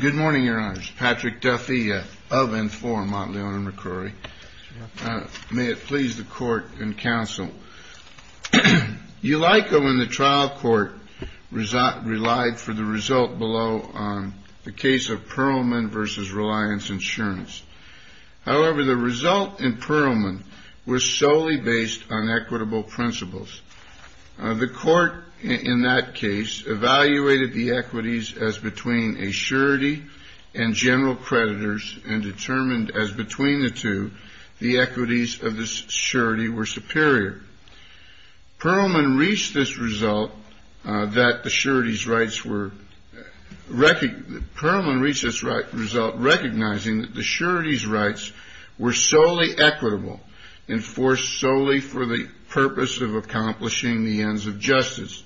Good morning, Your Honors. Patrick Duffy of N4, Mont Leon and McCrory. May it please the Court and Counsel. Ulyco in the trial court relied for the result below on the case of Pearlman v. Reliance Insurance. However, the result in Pearlman was solely based on equitable principles. The Court in that case evaluated the equities as between a surety and general creditors and determined as between the two the equities of the surety were superior. Pearlman reached this result recognizing that the surety's rights were solely equitable and forced solely for the purpose of accomplishing the ends of justice.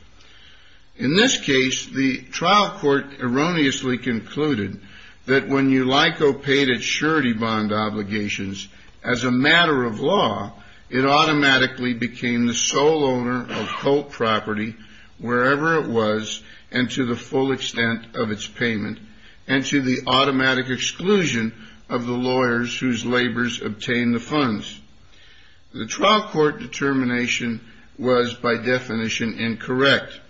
In this case, the trial court erroneously concluded that when Ulyco paid its surety bond obligations as a matter of law, it automatically became the sole owner of Colt property wherever it was and to the full extent of its payment, and to the automatic exclusion of the lawyers whose labors obtained the funds. The trial court determination was, by definition, incorrect.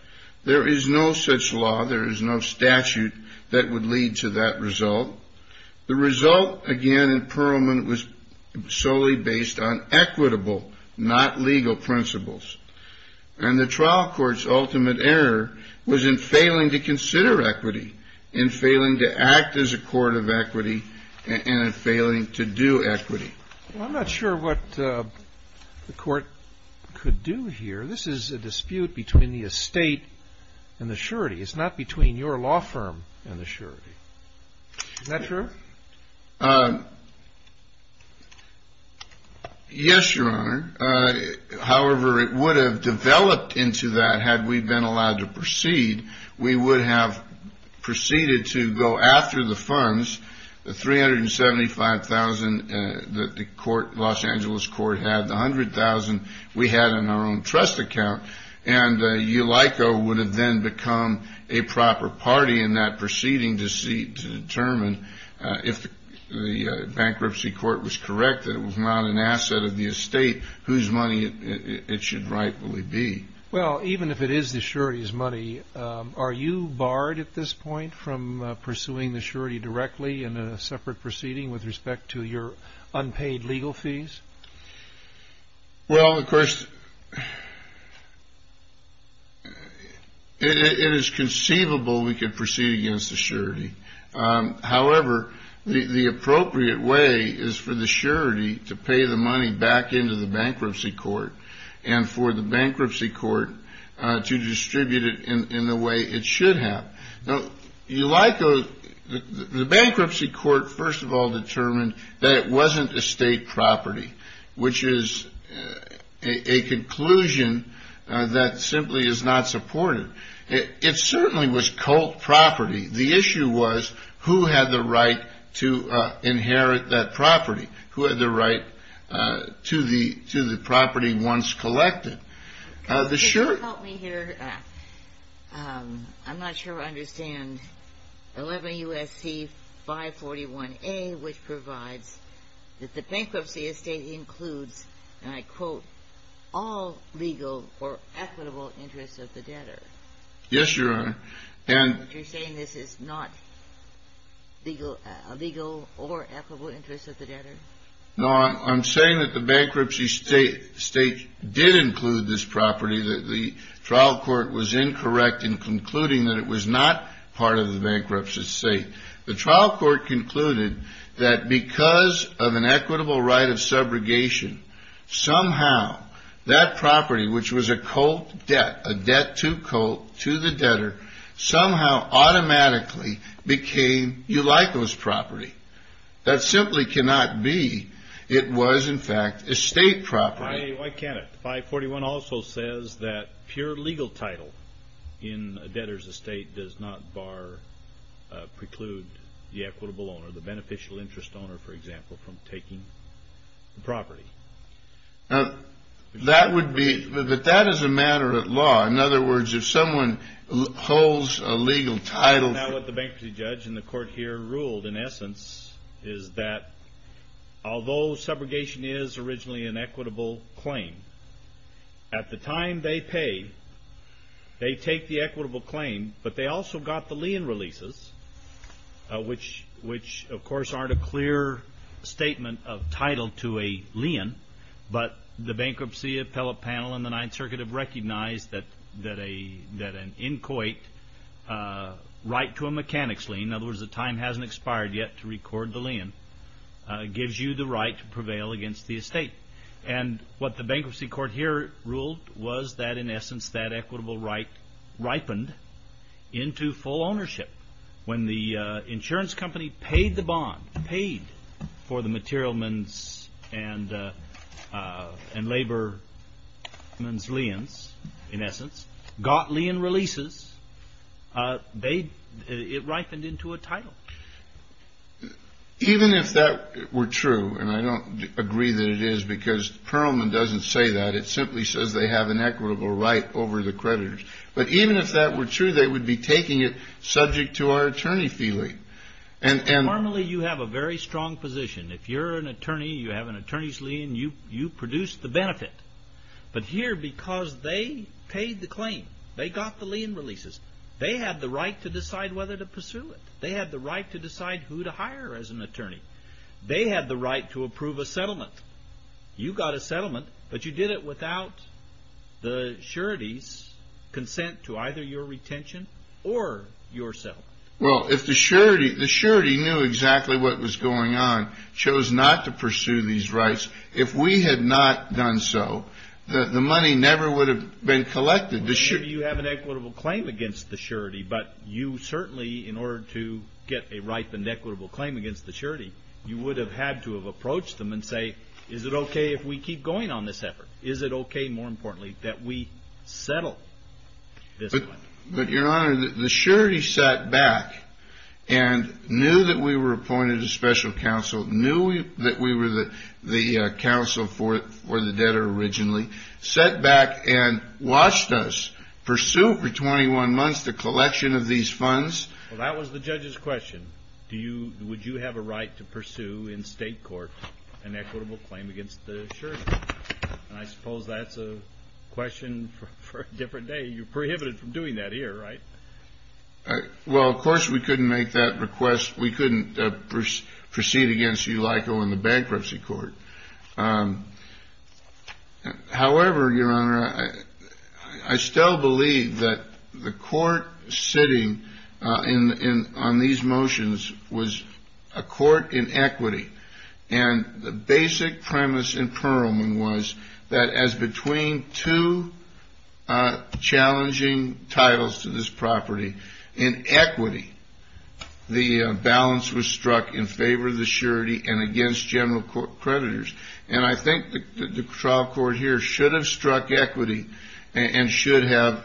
There is no such law, there is no statute that would lead to that result. The result, again, in Pearlman was solely based on equitable, not legal principles. And the trial court's ultimate error was in failing to consider equity, in failing to act as a court of equity, and in failing to do equity. I'm not sure what the court could do here. This is a dispute between the estate and the surety. It's not between your law firm and the surety. Is that true? Yes, Your Honor. However, it would have developed into that had we been allowed to proceed. We would have proceeded to go after the funds, the $375,000 that the Los Angeles court had, the $100,000 we had in our own trust account, and Ulyco would have then become a proper party in that proceeding to determine if the bankruptcy court was correct that it was not an asset of the estate whose money it should rightfully be. Well, even if it is the surety's are you barred at this point from pursuing the surety directly in a separate proceeding with respect to your unpaid legal fees? Well, of course, it is conceivable we could proceed against the surety. However, the appropriate way is for the surety to pay the money back into the bankruptcy court and for the bankruptcy court to distribute it in the way it should have. Now, Ulyco, the bankruptcy court first of all determined that it wasn't estate property, which is a conclusion that simply is not supported. It certainly was cult property. The issue was who had the right to inherit that property? Who had the right to the property once collected? Can you help me here? I'm not sure I understand. 11 U.S.C. 541A, which provides that the bankruptcy estate includes, and I quote, all legal or equitable interests of the debtor. Yes, Your Honor. All legal or equitable interests of the debtor. No, I'm saying that the bankruptcy state did include this property, that the trial court was incorrect in concluding that it was not part of the bankruptcy estate. The trial court concluded that because of an equitable right of subrogation, somehow that property, which was a cult debt, a debt to cult, to the debtor, somehow automatically became Ulyco's property. That simply cannot be. It was, in fact, estate property. Why can't it? 541 also says that pure legal title in a debtor's estate does not bar, preclude the equitable owner, the beneficial interest owner, for example, from taking the property. Now, that would be, that that is a matter of law. In other words, if someone holds a legal title. That's not what the bankruptcy judge and the court here ruled, in essence, is that although subrogation is originally an equitable claim, at the time they paid, they take the equitable claim, but they also got the lien releases, which, of course, aren't a clear statement of title to a lien, but the bankruptcy appellate panel and the Ninth Circuit have recognized that an in-coit right to a mechanics lien, in other words, the time hasn't expired yet to record the lien, gives you the right to prevail against the estate. And what the bankruptcy court here ruled was that, in essence, that equitable right ripened into full ownership. When the insurance company paid the bond, paid for the materialman's and laborman's liens, in essence, got lien releases, they, it ripened into a title. Even if that were true, and I don't agree that it is because Perelman doesn't say that. It simply says they have an equitable right over the creditors. But even if that were true, they would be taking it subject to our attorney fee link. Normally, you have a very strong position. If you're an attorney, you have an attorney's lien, you produce the benefit. But here, because they paid the claim, they got the lien releases, they had the right to decide whether to pursue it. They had the right to decide who to hire as an attorney. They had the right to approve a settlement. You got a settlement, but you did it without the surety's consent to either your retention or your settlement. Well, if the surety knew exactly what was going on, chose not to pursue these rights, if we had not done so, the money never would have been collected. You have an equitable claim against the surety, but you certainly, in order to get a ripened equitable claim against the surety, you would have had to have approached them and say, is it okay if we keep going on this effort? Is it okay, more importantly, that we settle this one? But, Your Honor, the surety sat back and knew that we were appointed a special counsel, knew that we were the counsel for the debtor originally, sat back and watched us pursue for 21 months the collection of these funds. Well, that was the judge's question. Would you have a right to pursue in state court an equitable claim against the surety? And I suppose that's a question for a different day. You're prohibited from doing that here, right? Well, of course we couldn't make that request. We couldn't proceed against you like on the bankruptcy court. However, Your Honor, I still believe that the court sitting on these motions was a court in equity, and the basic premise in Perelman was that as between two challenging titles to this property, in equity, the balance was struck in favor of the surety and against general creditors. And I think the trial court here should have struck equity and should have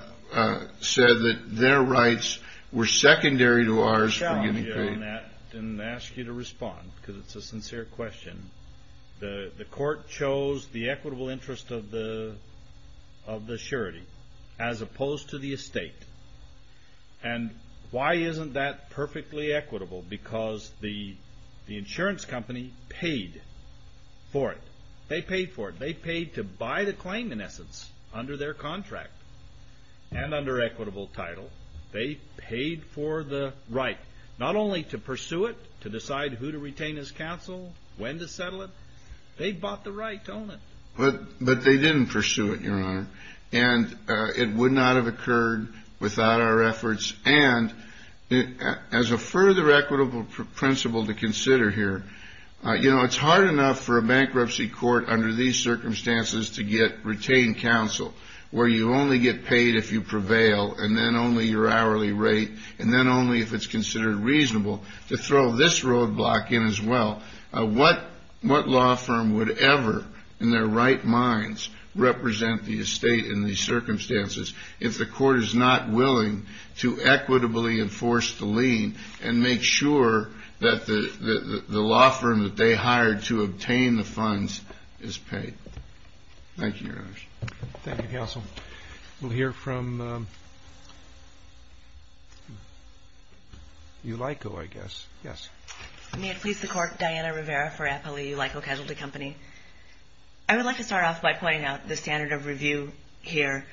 said that their rights were secondary to ours for giving claims. Let me challenge you on that and ask you to respond, because it's a sincere question. The court chose the equitable interest of the surety as opposed to the estate. And why isn't that perfectly equitable? Because the insurance company paid for it. They paid for it. They paid to buy the claim, in essence, under their contract and under equitable title. They paid for the right, not only to pursue it, to decide who to retain as counsel, when to settle it. They bought the right to own it. But they didn't pursue it, Your Honor. And it would not have occurred without our efforts. And as a further equitable principle to consider here, you know, it's hard enough for a bankruptcy court under these circumstances to get retained counsel, where you only get paid if you prevail, and then only your hourly rate, and then only if it's considered reasonable, to throw this roadblock in as well. What law firm would ever, in their right minds, represent the estate in these circumstances if the court is not willing to equitably enforce the lien and make sure that the law firm that they hired to obtain the funds is paid? Thank you, Your Honor. Thank you, Counsel. We'll hear from EULICO, I guess. Yes. May it please the Court, Diana Rivera for Appali EULICO Casualty Company. I would like to start off by pointing out the standard of review here.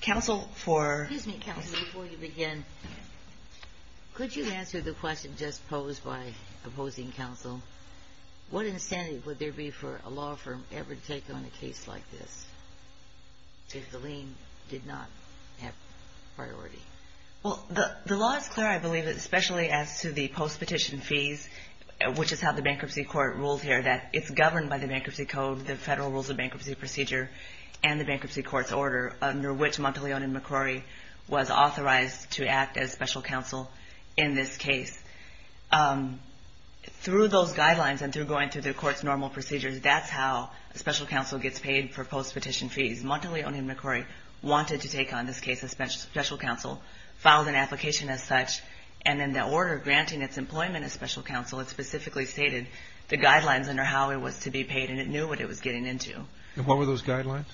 Counsel, for... Could you answer the question just posed by opposing counsel? What incentive would there be for a law firm ever to take on a case like this if the lien did not have priority? Well, the law is clear, I believe, especially as to the post-petition fees, which is how the bankruptcy court rules here, that it's governed by the Bankruptcy Code, the Federal Rules of Bankruptcy Procedure, and the Bankruptcy Court's order, under which Monteleone and McCrory was authorized to act as special counsel in this case. Through those guidelines and through going through the court's normal procedures, that's how a special counsel gets paid for post-petition fees. Monteleone and McCrory wanted to take on this case as special counsel, filed an application as such, and in that order granting its employment as special counsel, it specifically stated the guidelines under how it was to be paid, and it knew what it was getting into. And what were those guidelines?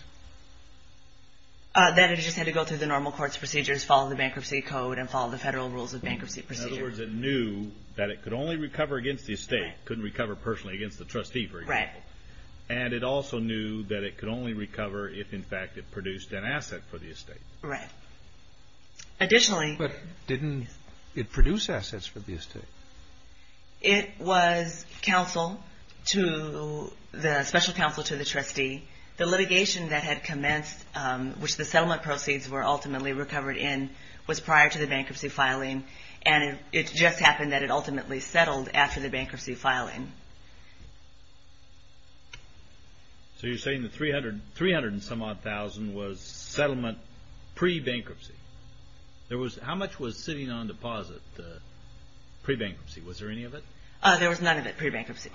That it just had to go through the normal court's procedures, follow the Bankruptcy Code, and follow the Federal Rules of Bankruptcy Procedure. In other words, it knew that it could only recover against the estate, couldn't recover personally against the trustee, for example. Right. And it also knew that it could only recover if, in fact, it produced an asset for the estate. Right. Additionally... But didn't it produce assets for the estate? It was counsel to the special counsel to the trustee. The litigation that had commenced, which the settlement proceeds were ultimately recovered in, was prior to the bankruptcy filing, and it just happened that it ultimately settled after the bankruptcy filing. So you're saying the 300 and some-odd thousand was settlement pre-bankruptcy. How much was sitting on deposit pre-bankruptcy? Was there any of it? There was none of it pre-bankruptcy,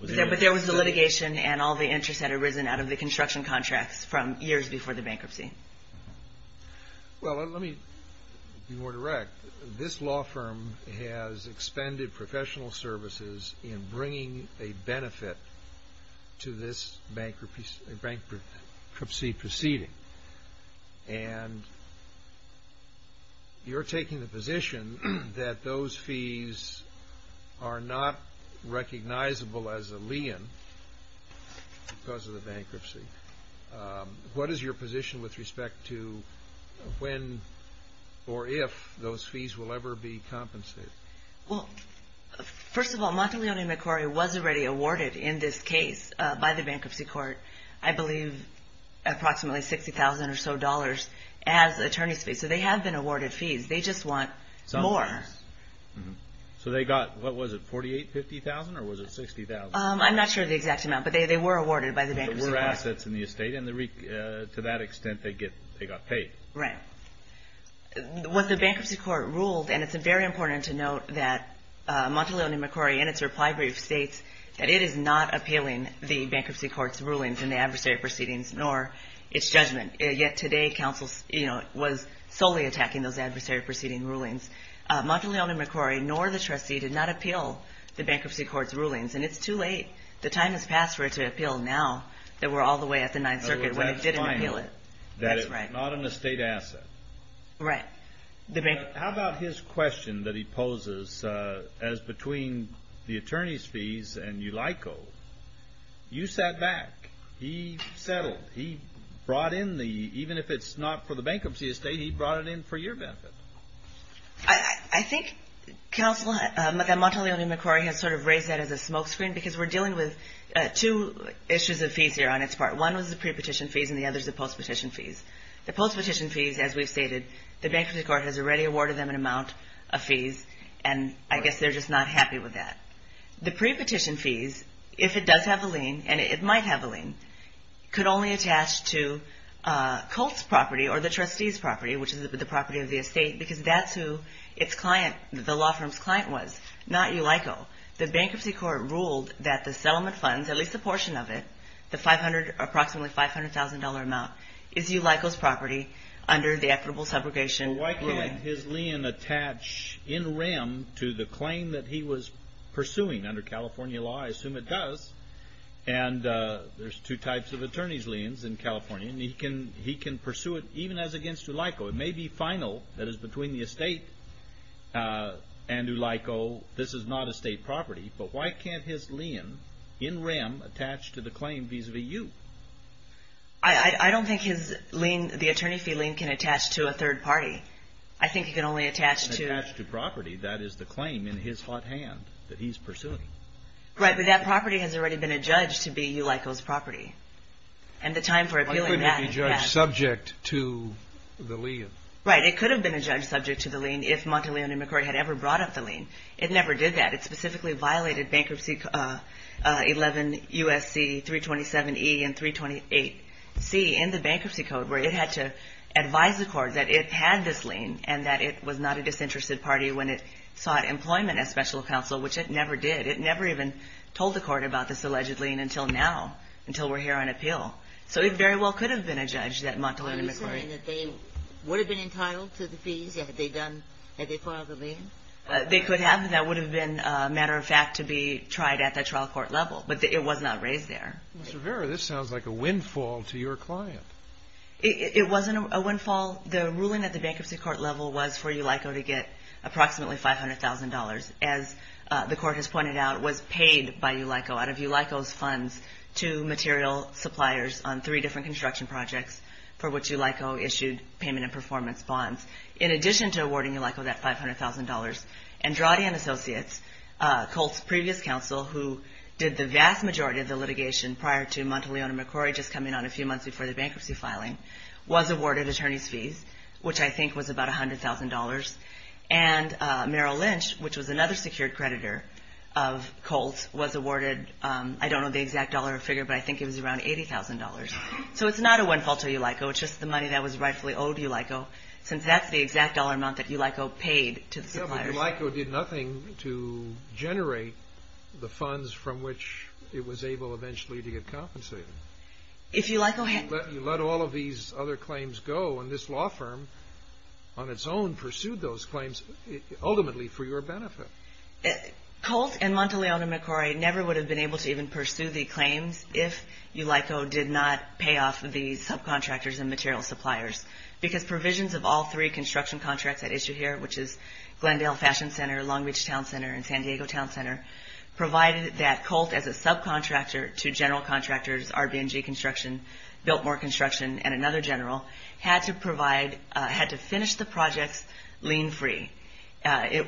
but there was the litigation and all the interest had arisen out of the construction contracts from years before the bankruptcy. Well, let me be more direct. This law firm has expended professional services in bringing a benefit to this bankruptcy proceeding, and you're taking the position that those fees are not recognizable as a lien because of the bankruptcy. What is your position with respect to when or if those fees will ever be compensated? First of all, Monteleone Macquarie was already awarded in this case by the bankruptcy court, I believe, approximately $60,000 or so as attorney's fees. So they have been awarded fees. They just want more. So they got, what was it, $48,000, $50,000, or was it $60,000? I'm not sure of the exact amount, but they were awarded by the bankruptcy court. They were assets in the estate, and to that extent, they got paid. Right. What the bankruptcy court ruled, and it's very important to note that Monteleone Macquarie in its reply brief states that it is not appealing the bankruptcy court's rulings in the adversary proceedings nor its judgment. Yet today, counsel was solely attacking those adversary proceeding rulings. Monteleone Macquarie nor the trustee did not appeal the bankruptcy court's rulings, and it's too late. The time has passed for it to appeal now that we're all the way at the Ninth Circuit when it didn't appeal it. That's right. That it's not an estate asset. Right. How about his question that he poses as between the attorney's fees and ULICO? You sat back. He settled. He brought in the, even if it's not for the bankruptcy estate, he brought it in for your benefit. I think that Monteleone Macquarie has sort of raised that as a smokescreen because we're dealing with two issues of fees here on its part. One was the pre-petition fees, and the other is the post-petition fees. The post-petition fees, as we've stated, the bankruptcy court has already awarded them an amount of fees, and I guess they're just not happy with that. The pre-petition fees, if it does have a lien, and it might have a lien, could only attach to Colt's property or the trustee's property, which is the property of the estate, because that's who the law firm's client was, not ULICO. The bankruptcy court ruled that the settlement funds, at least a portion of it, the approximately $500,000 amount, is ULICO's property under the equitable subrogation. Well, why couldn't his lien attach in rem to the claim that he was pursuing under California law? I assume it does, and there's two types of attorney's liens in California, and he can pursue it even as against ULICO. It may be final, that is between the estate and ULICO. This is not estate property, but why can't his lien in rem attach to the claim vis-a-vis you? I don't think the attorney fee lien can attach to a third party. I think it can only attach to... That is the claim in his hot hand that he's pursuing. Right, but that property has already been adjudged to be ULICO's property, and the time for appealing that... Why couldn't it be judged subject to the lien? Right, it could have been adjudged subject to the lien if Monteleone and McCord had ever brought up the lien. It never did that. It specifically violated Bankruptcy 11 U.S.C. 327E and 328C in the bankruptcy code, where it had to advise the court that it had this property, sought employment as special counsel, which it never did. It never even told the court about this alleged lien until now, until we're here on appeal. So it very well could have been adjudged that Monteleone and McCord... Are you saying that they would have been entitled to the fees had they filed the lien? They could have, and that would have been a matter of fact to be tried at the trial court level, but it was not raised there. Ms. Rivera, this sounds like a windfall to your client. It wasn't a windfall. The ruling at the bankruptcy court level was for ULICO to get approximately $500,000. As the court has pointed out, it was paid by ULICO out of ULICO's funds to material suppliers on three different construction projects for which ULICO issued payment and performance bonds. In addition to awarding ULICO that $500,000, Andrade and Associates, Colt's previous counsel, who did the vast majority of the litigation prior to Monteleone and McCord, just coming on a few months before the bankruptcy filing, was awarded attorney's about $100,000. And Merrill Lynch, which was another secured creditor of Colt's, was awarded, I don't know the exact dollar figure, but I think it was around $80,000. So it's not a windfall to ULICO. It's just the money that was rightfully owed to ULICO, since that's the exact dollar amount that ULICO paid to the suppliers. But ULICO did nothing to generate the funds from which it was able eventually to get compensated. If you let all of these other claims go, and this law firm on its own pursued those claims ultimately for your benefit. Colt and Monteleone and McCord never would have been able to even pursue the claims if ULICO did not pay off the subcontractors and material suppliers. Because provisions of all three construction contracts that issue here, which is Glendale Fashion Center, Long Beach Town Center, and San Diego Town Center, provided that Colt as a subcontractor to general contractors, RBNG Construction, Biltmore Construction, and another general, had to finish the projects lien-free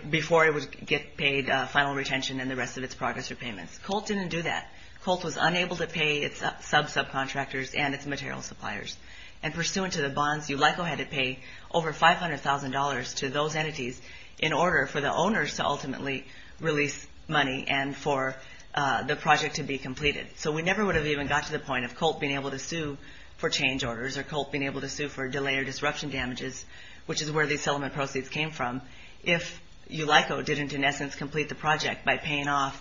before it would get paid final retention and the rest of its progress repayments. Colt didn't do that. Colt was unable to pay its sub-subcontractors and its material suppliers. And pursuant to the bonds, ULICO had to pay over $500,000 to those entities in order for the owners to ultimately release money and for the project to be completed. So we never would have even got to the point of Colt being able to sue for change orders or Colt being able to sue for delay or disruption damages, which is where these settlement proceeds came from, if ULICO didn't, in essence, complete the project by paying off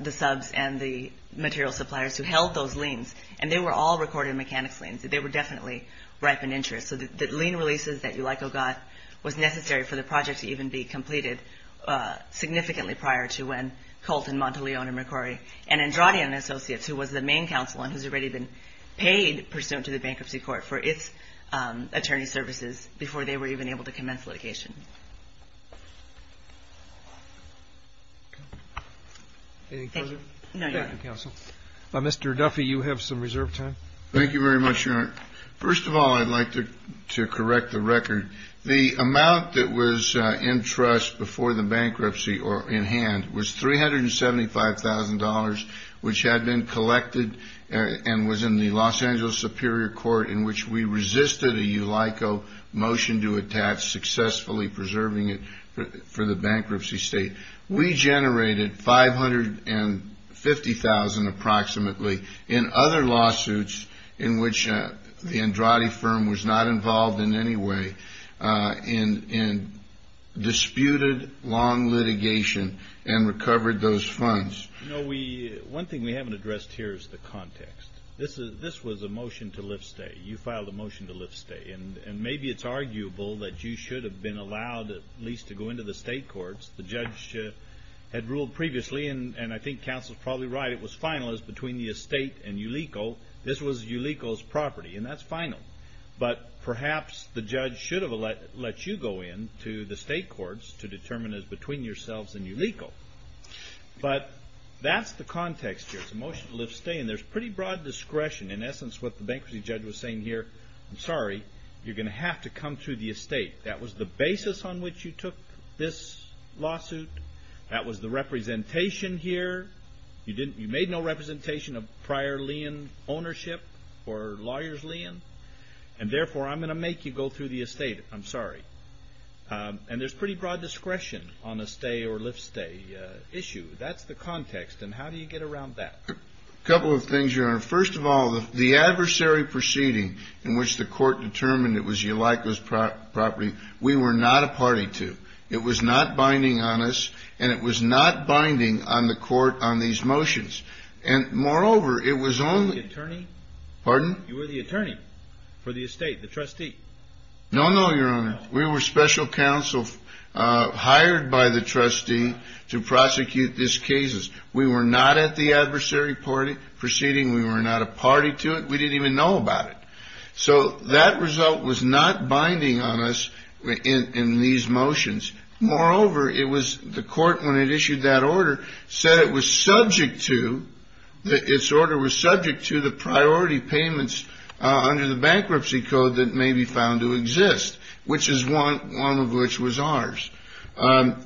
the subs and the material suppliers who held those liens. And they were all recorded mechanics liens. They were definitely ripened interest. So the lien releases that ULICO got was necessary for the project to even be completed significantly prior to when Colt and Monteleone and McCord and Andrade and Associates, who was the main counsel and who's already been paid pursuant to the Bankruptcy Court for its attorney services, before they were even able to commence litigation. Mr. Duffy, you have some reserve time. Thank you very much, Your Honor. First of all, I'd like to correct the record. The amount that was in trust before the bankruptcy or in hand was $375,000, which had been collected and was in the Los Angeles Superior Court in which we resisted a ULICO motion to attach, successfully preserving it for the bankruptcy state. We generated $550,000 approximately in other lawsuits in which the Andrade firm was not involved in any way and disputed long litigation and recovered those funds. One thing we haven't addressed here is the context. This was a motion to lift stay. You filed a motion to lift stay. And maybe it's arguable that you should have been allowed at least to go into the state courts. The judge had ruled previously, and I think counsel is probably right, it was finalist between the estate and ULICO. This was ULICO's property and that's final. But perhaps the judge should have let you go in to the state courts to determine as between yourselves and ULICO. But that's the context here. It's a motion to lift stay and there's pretty broad discretion. In essence, what the bankruptcy judge was saying here, I'm sorry, you're going to have to come through the estate. That was the basis on which you took this lawsuit. That was the representation here. You made no representation of prior lien ownership or lawyer's lien. And therefore, I'm going to make you go through the estate. I'm sorry. And there's pretty broad discretion on a stay or lift stay issue. That's the context. And how do you get around that? A couple of things, Your Honor. First of all, the adversary proceeding in which the court was not a party to. It was not binding on us. And it was not binding on the court on these motions. And moreover, it was only... The attorney? Pardon? You were the attorney for the estate, the trustee. No, no, Your Honor. We were special counsel hired by the trustee to prosecute this case. We were not at the adversary proceeding. We were not a party to it. We didn't even know about it. So that result was not binding on us in these motions. Moreover, it was... The court, when it issued that order, said it was subject to... Its order was subject to the priority payments under the bankruptcy code that may be found to exist, which is one of which was ours. And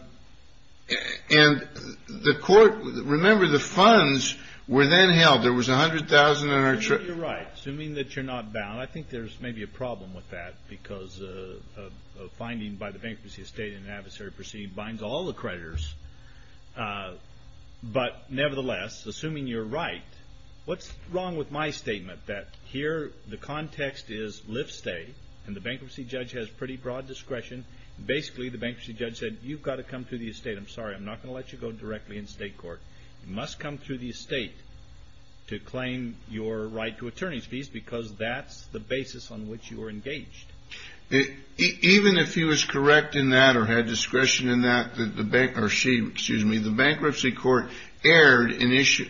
the court... Remember, the funds were then held. There was $100,000 in our... Well, you're right. Assuming that you're not bound, I think there's maybe a problem with that because a finding by the bankruptcy estate in an adversary proceeding binds all the creditors. But nevertheless, assuming you're right, what's wrong with my statement that here the context is live-stay and the bankruptcy judge has pretty broad discretion? Basically, the bankruptcy judge said, you've got to come to the estate. I'm sorry, I'm not going to let you go directly in state court. You must come to the estate to claim your right to attorney's fees because that's the basis on which you are engaged. Even if he was correct in that or had discretion in that, or she, excuse me, the bankruptcy court aired an issue.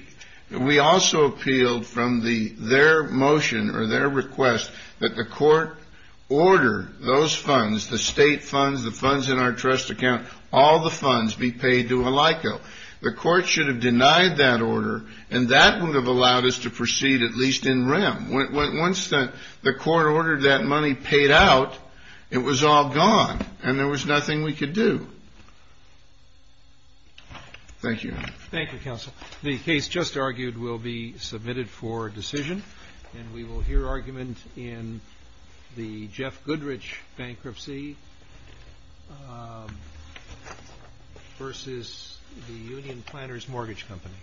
We also appealed from their motion or their request that the court order those funds, the state funds, the funds in our trust account, all the funds be paid to a LICO. The court should have denied that order, and that would have allowed us to proceed at least in rem. Once the court ordered that money paid out, it was all gone, and there was nothing we could do. Thank you. Thank you, counsel. The case just argued will be submitted for decision, and we will hear from the union planner's mortgage company.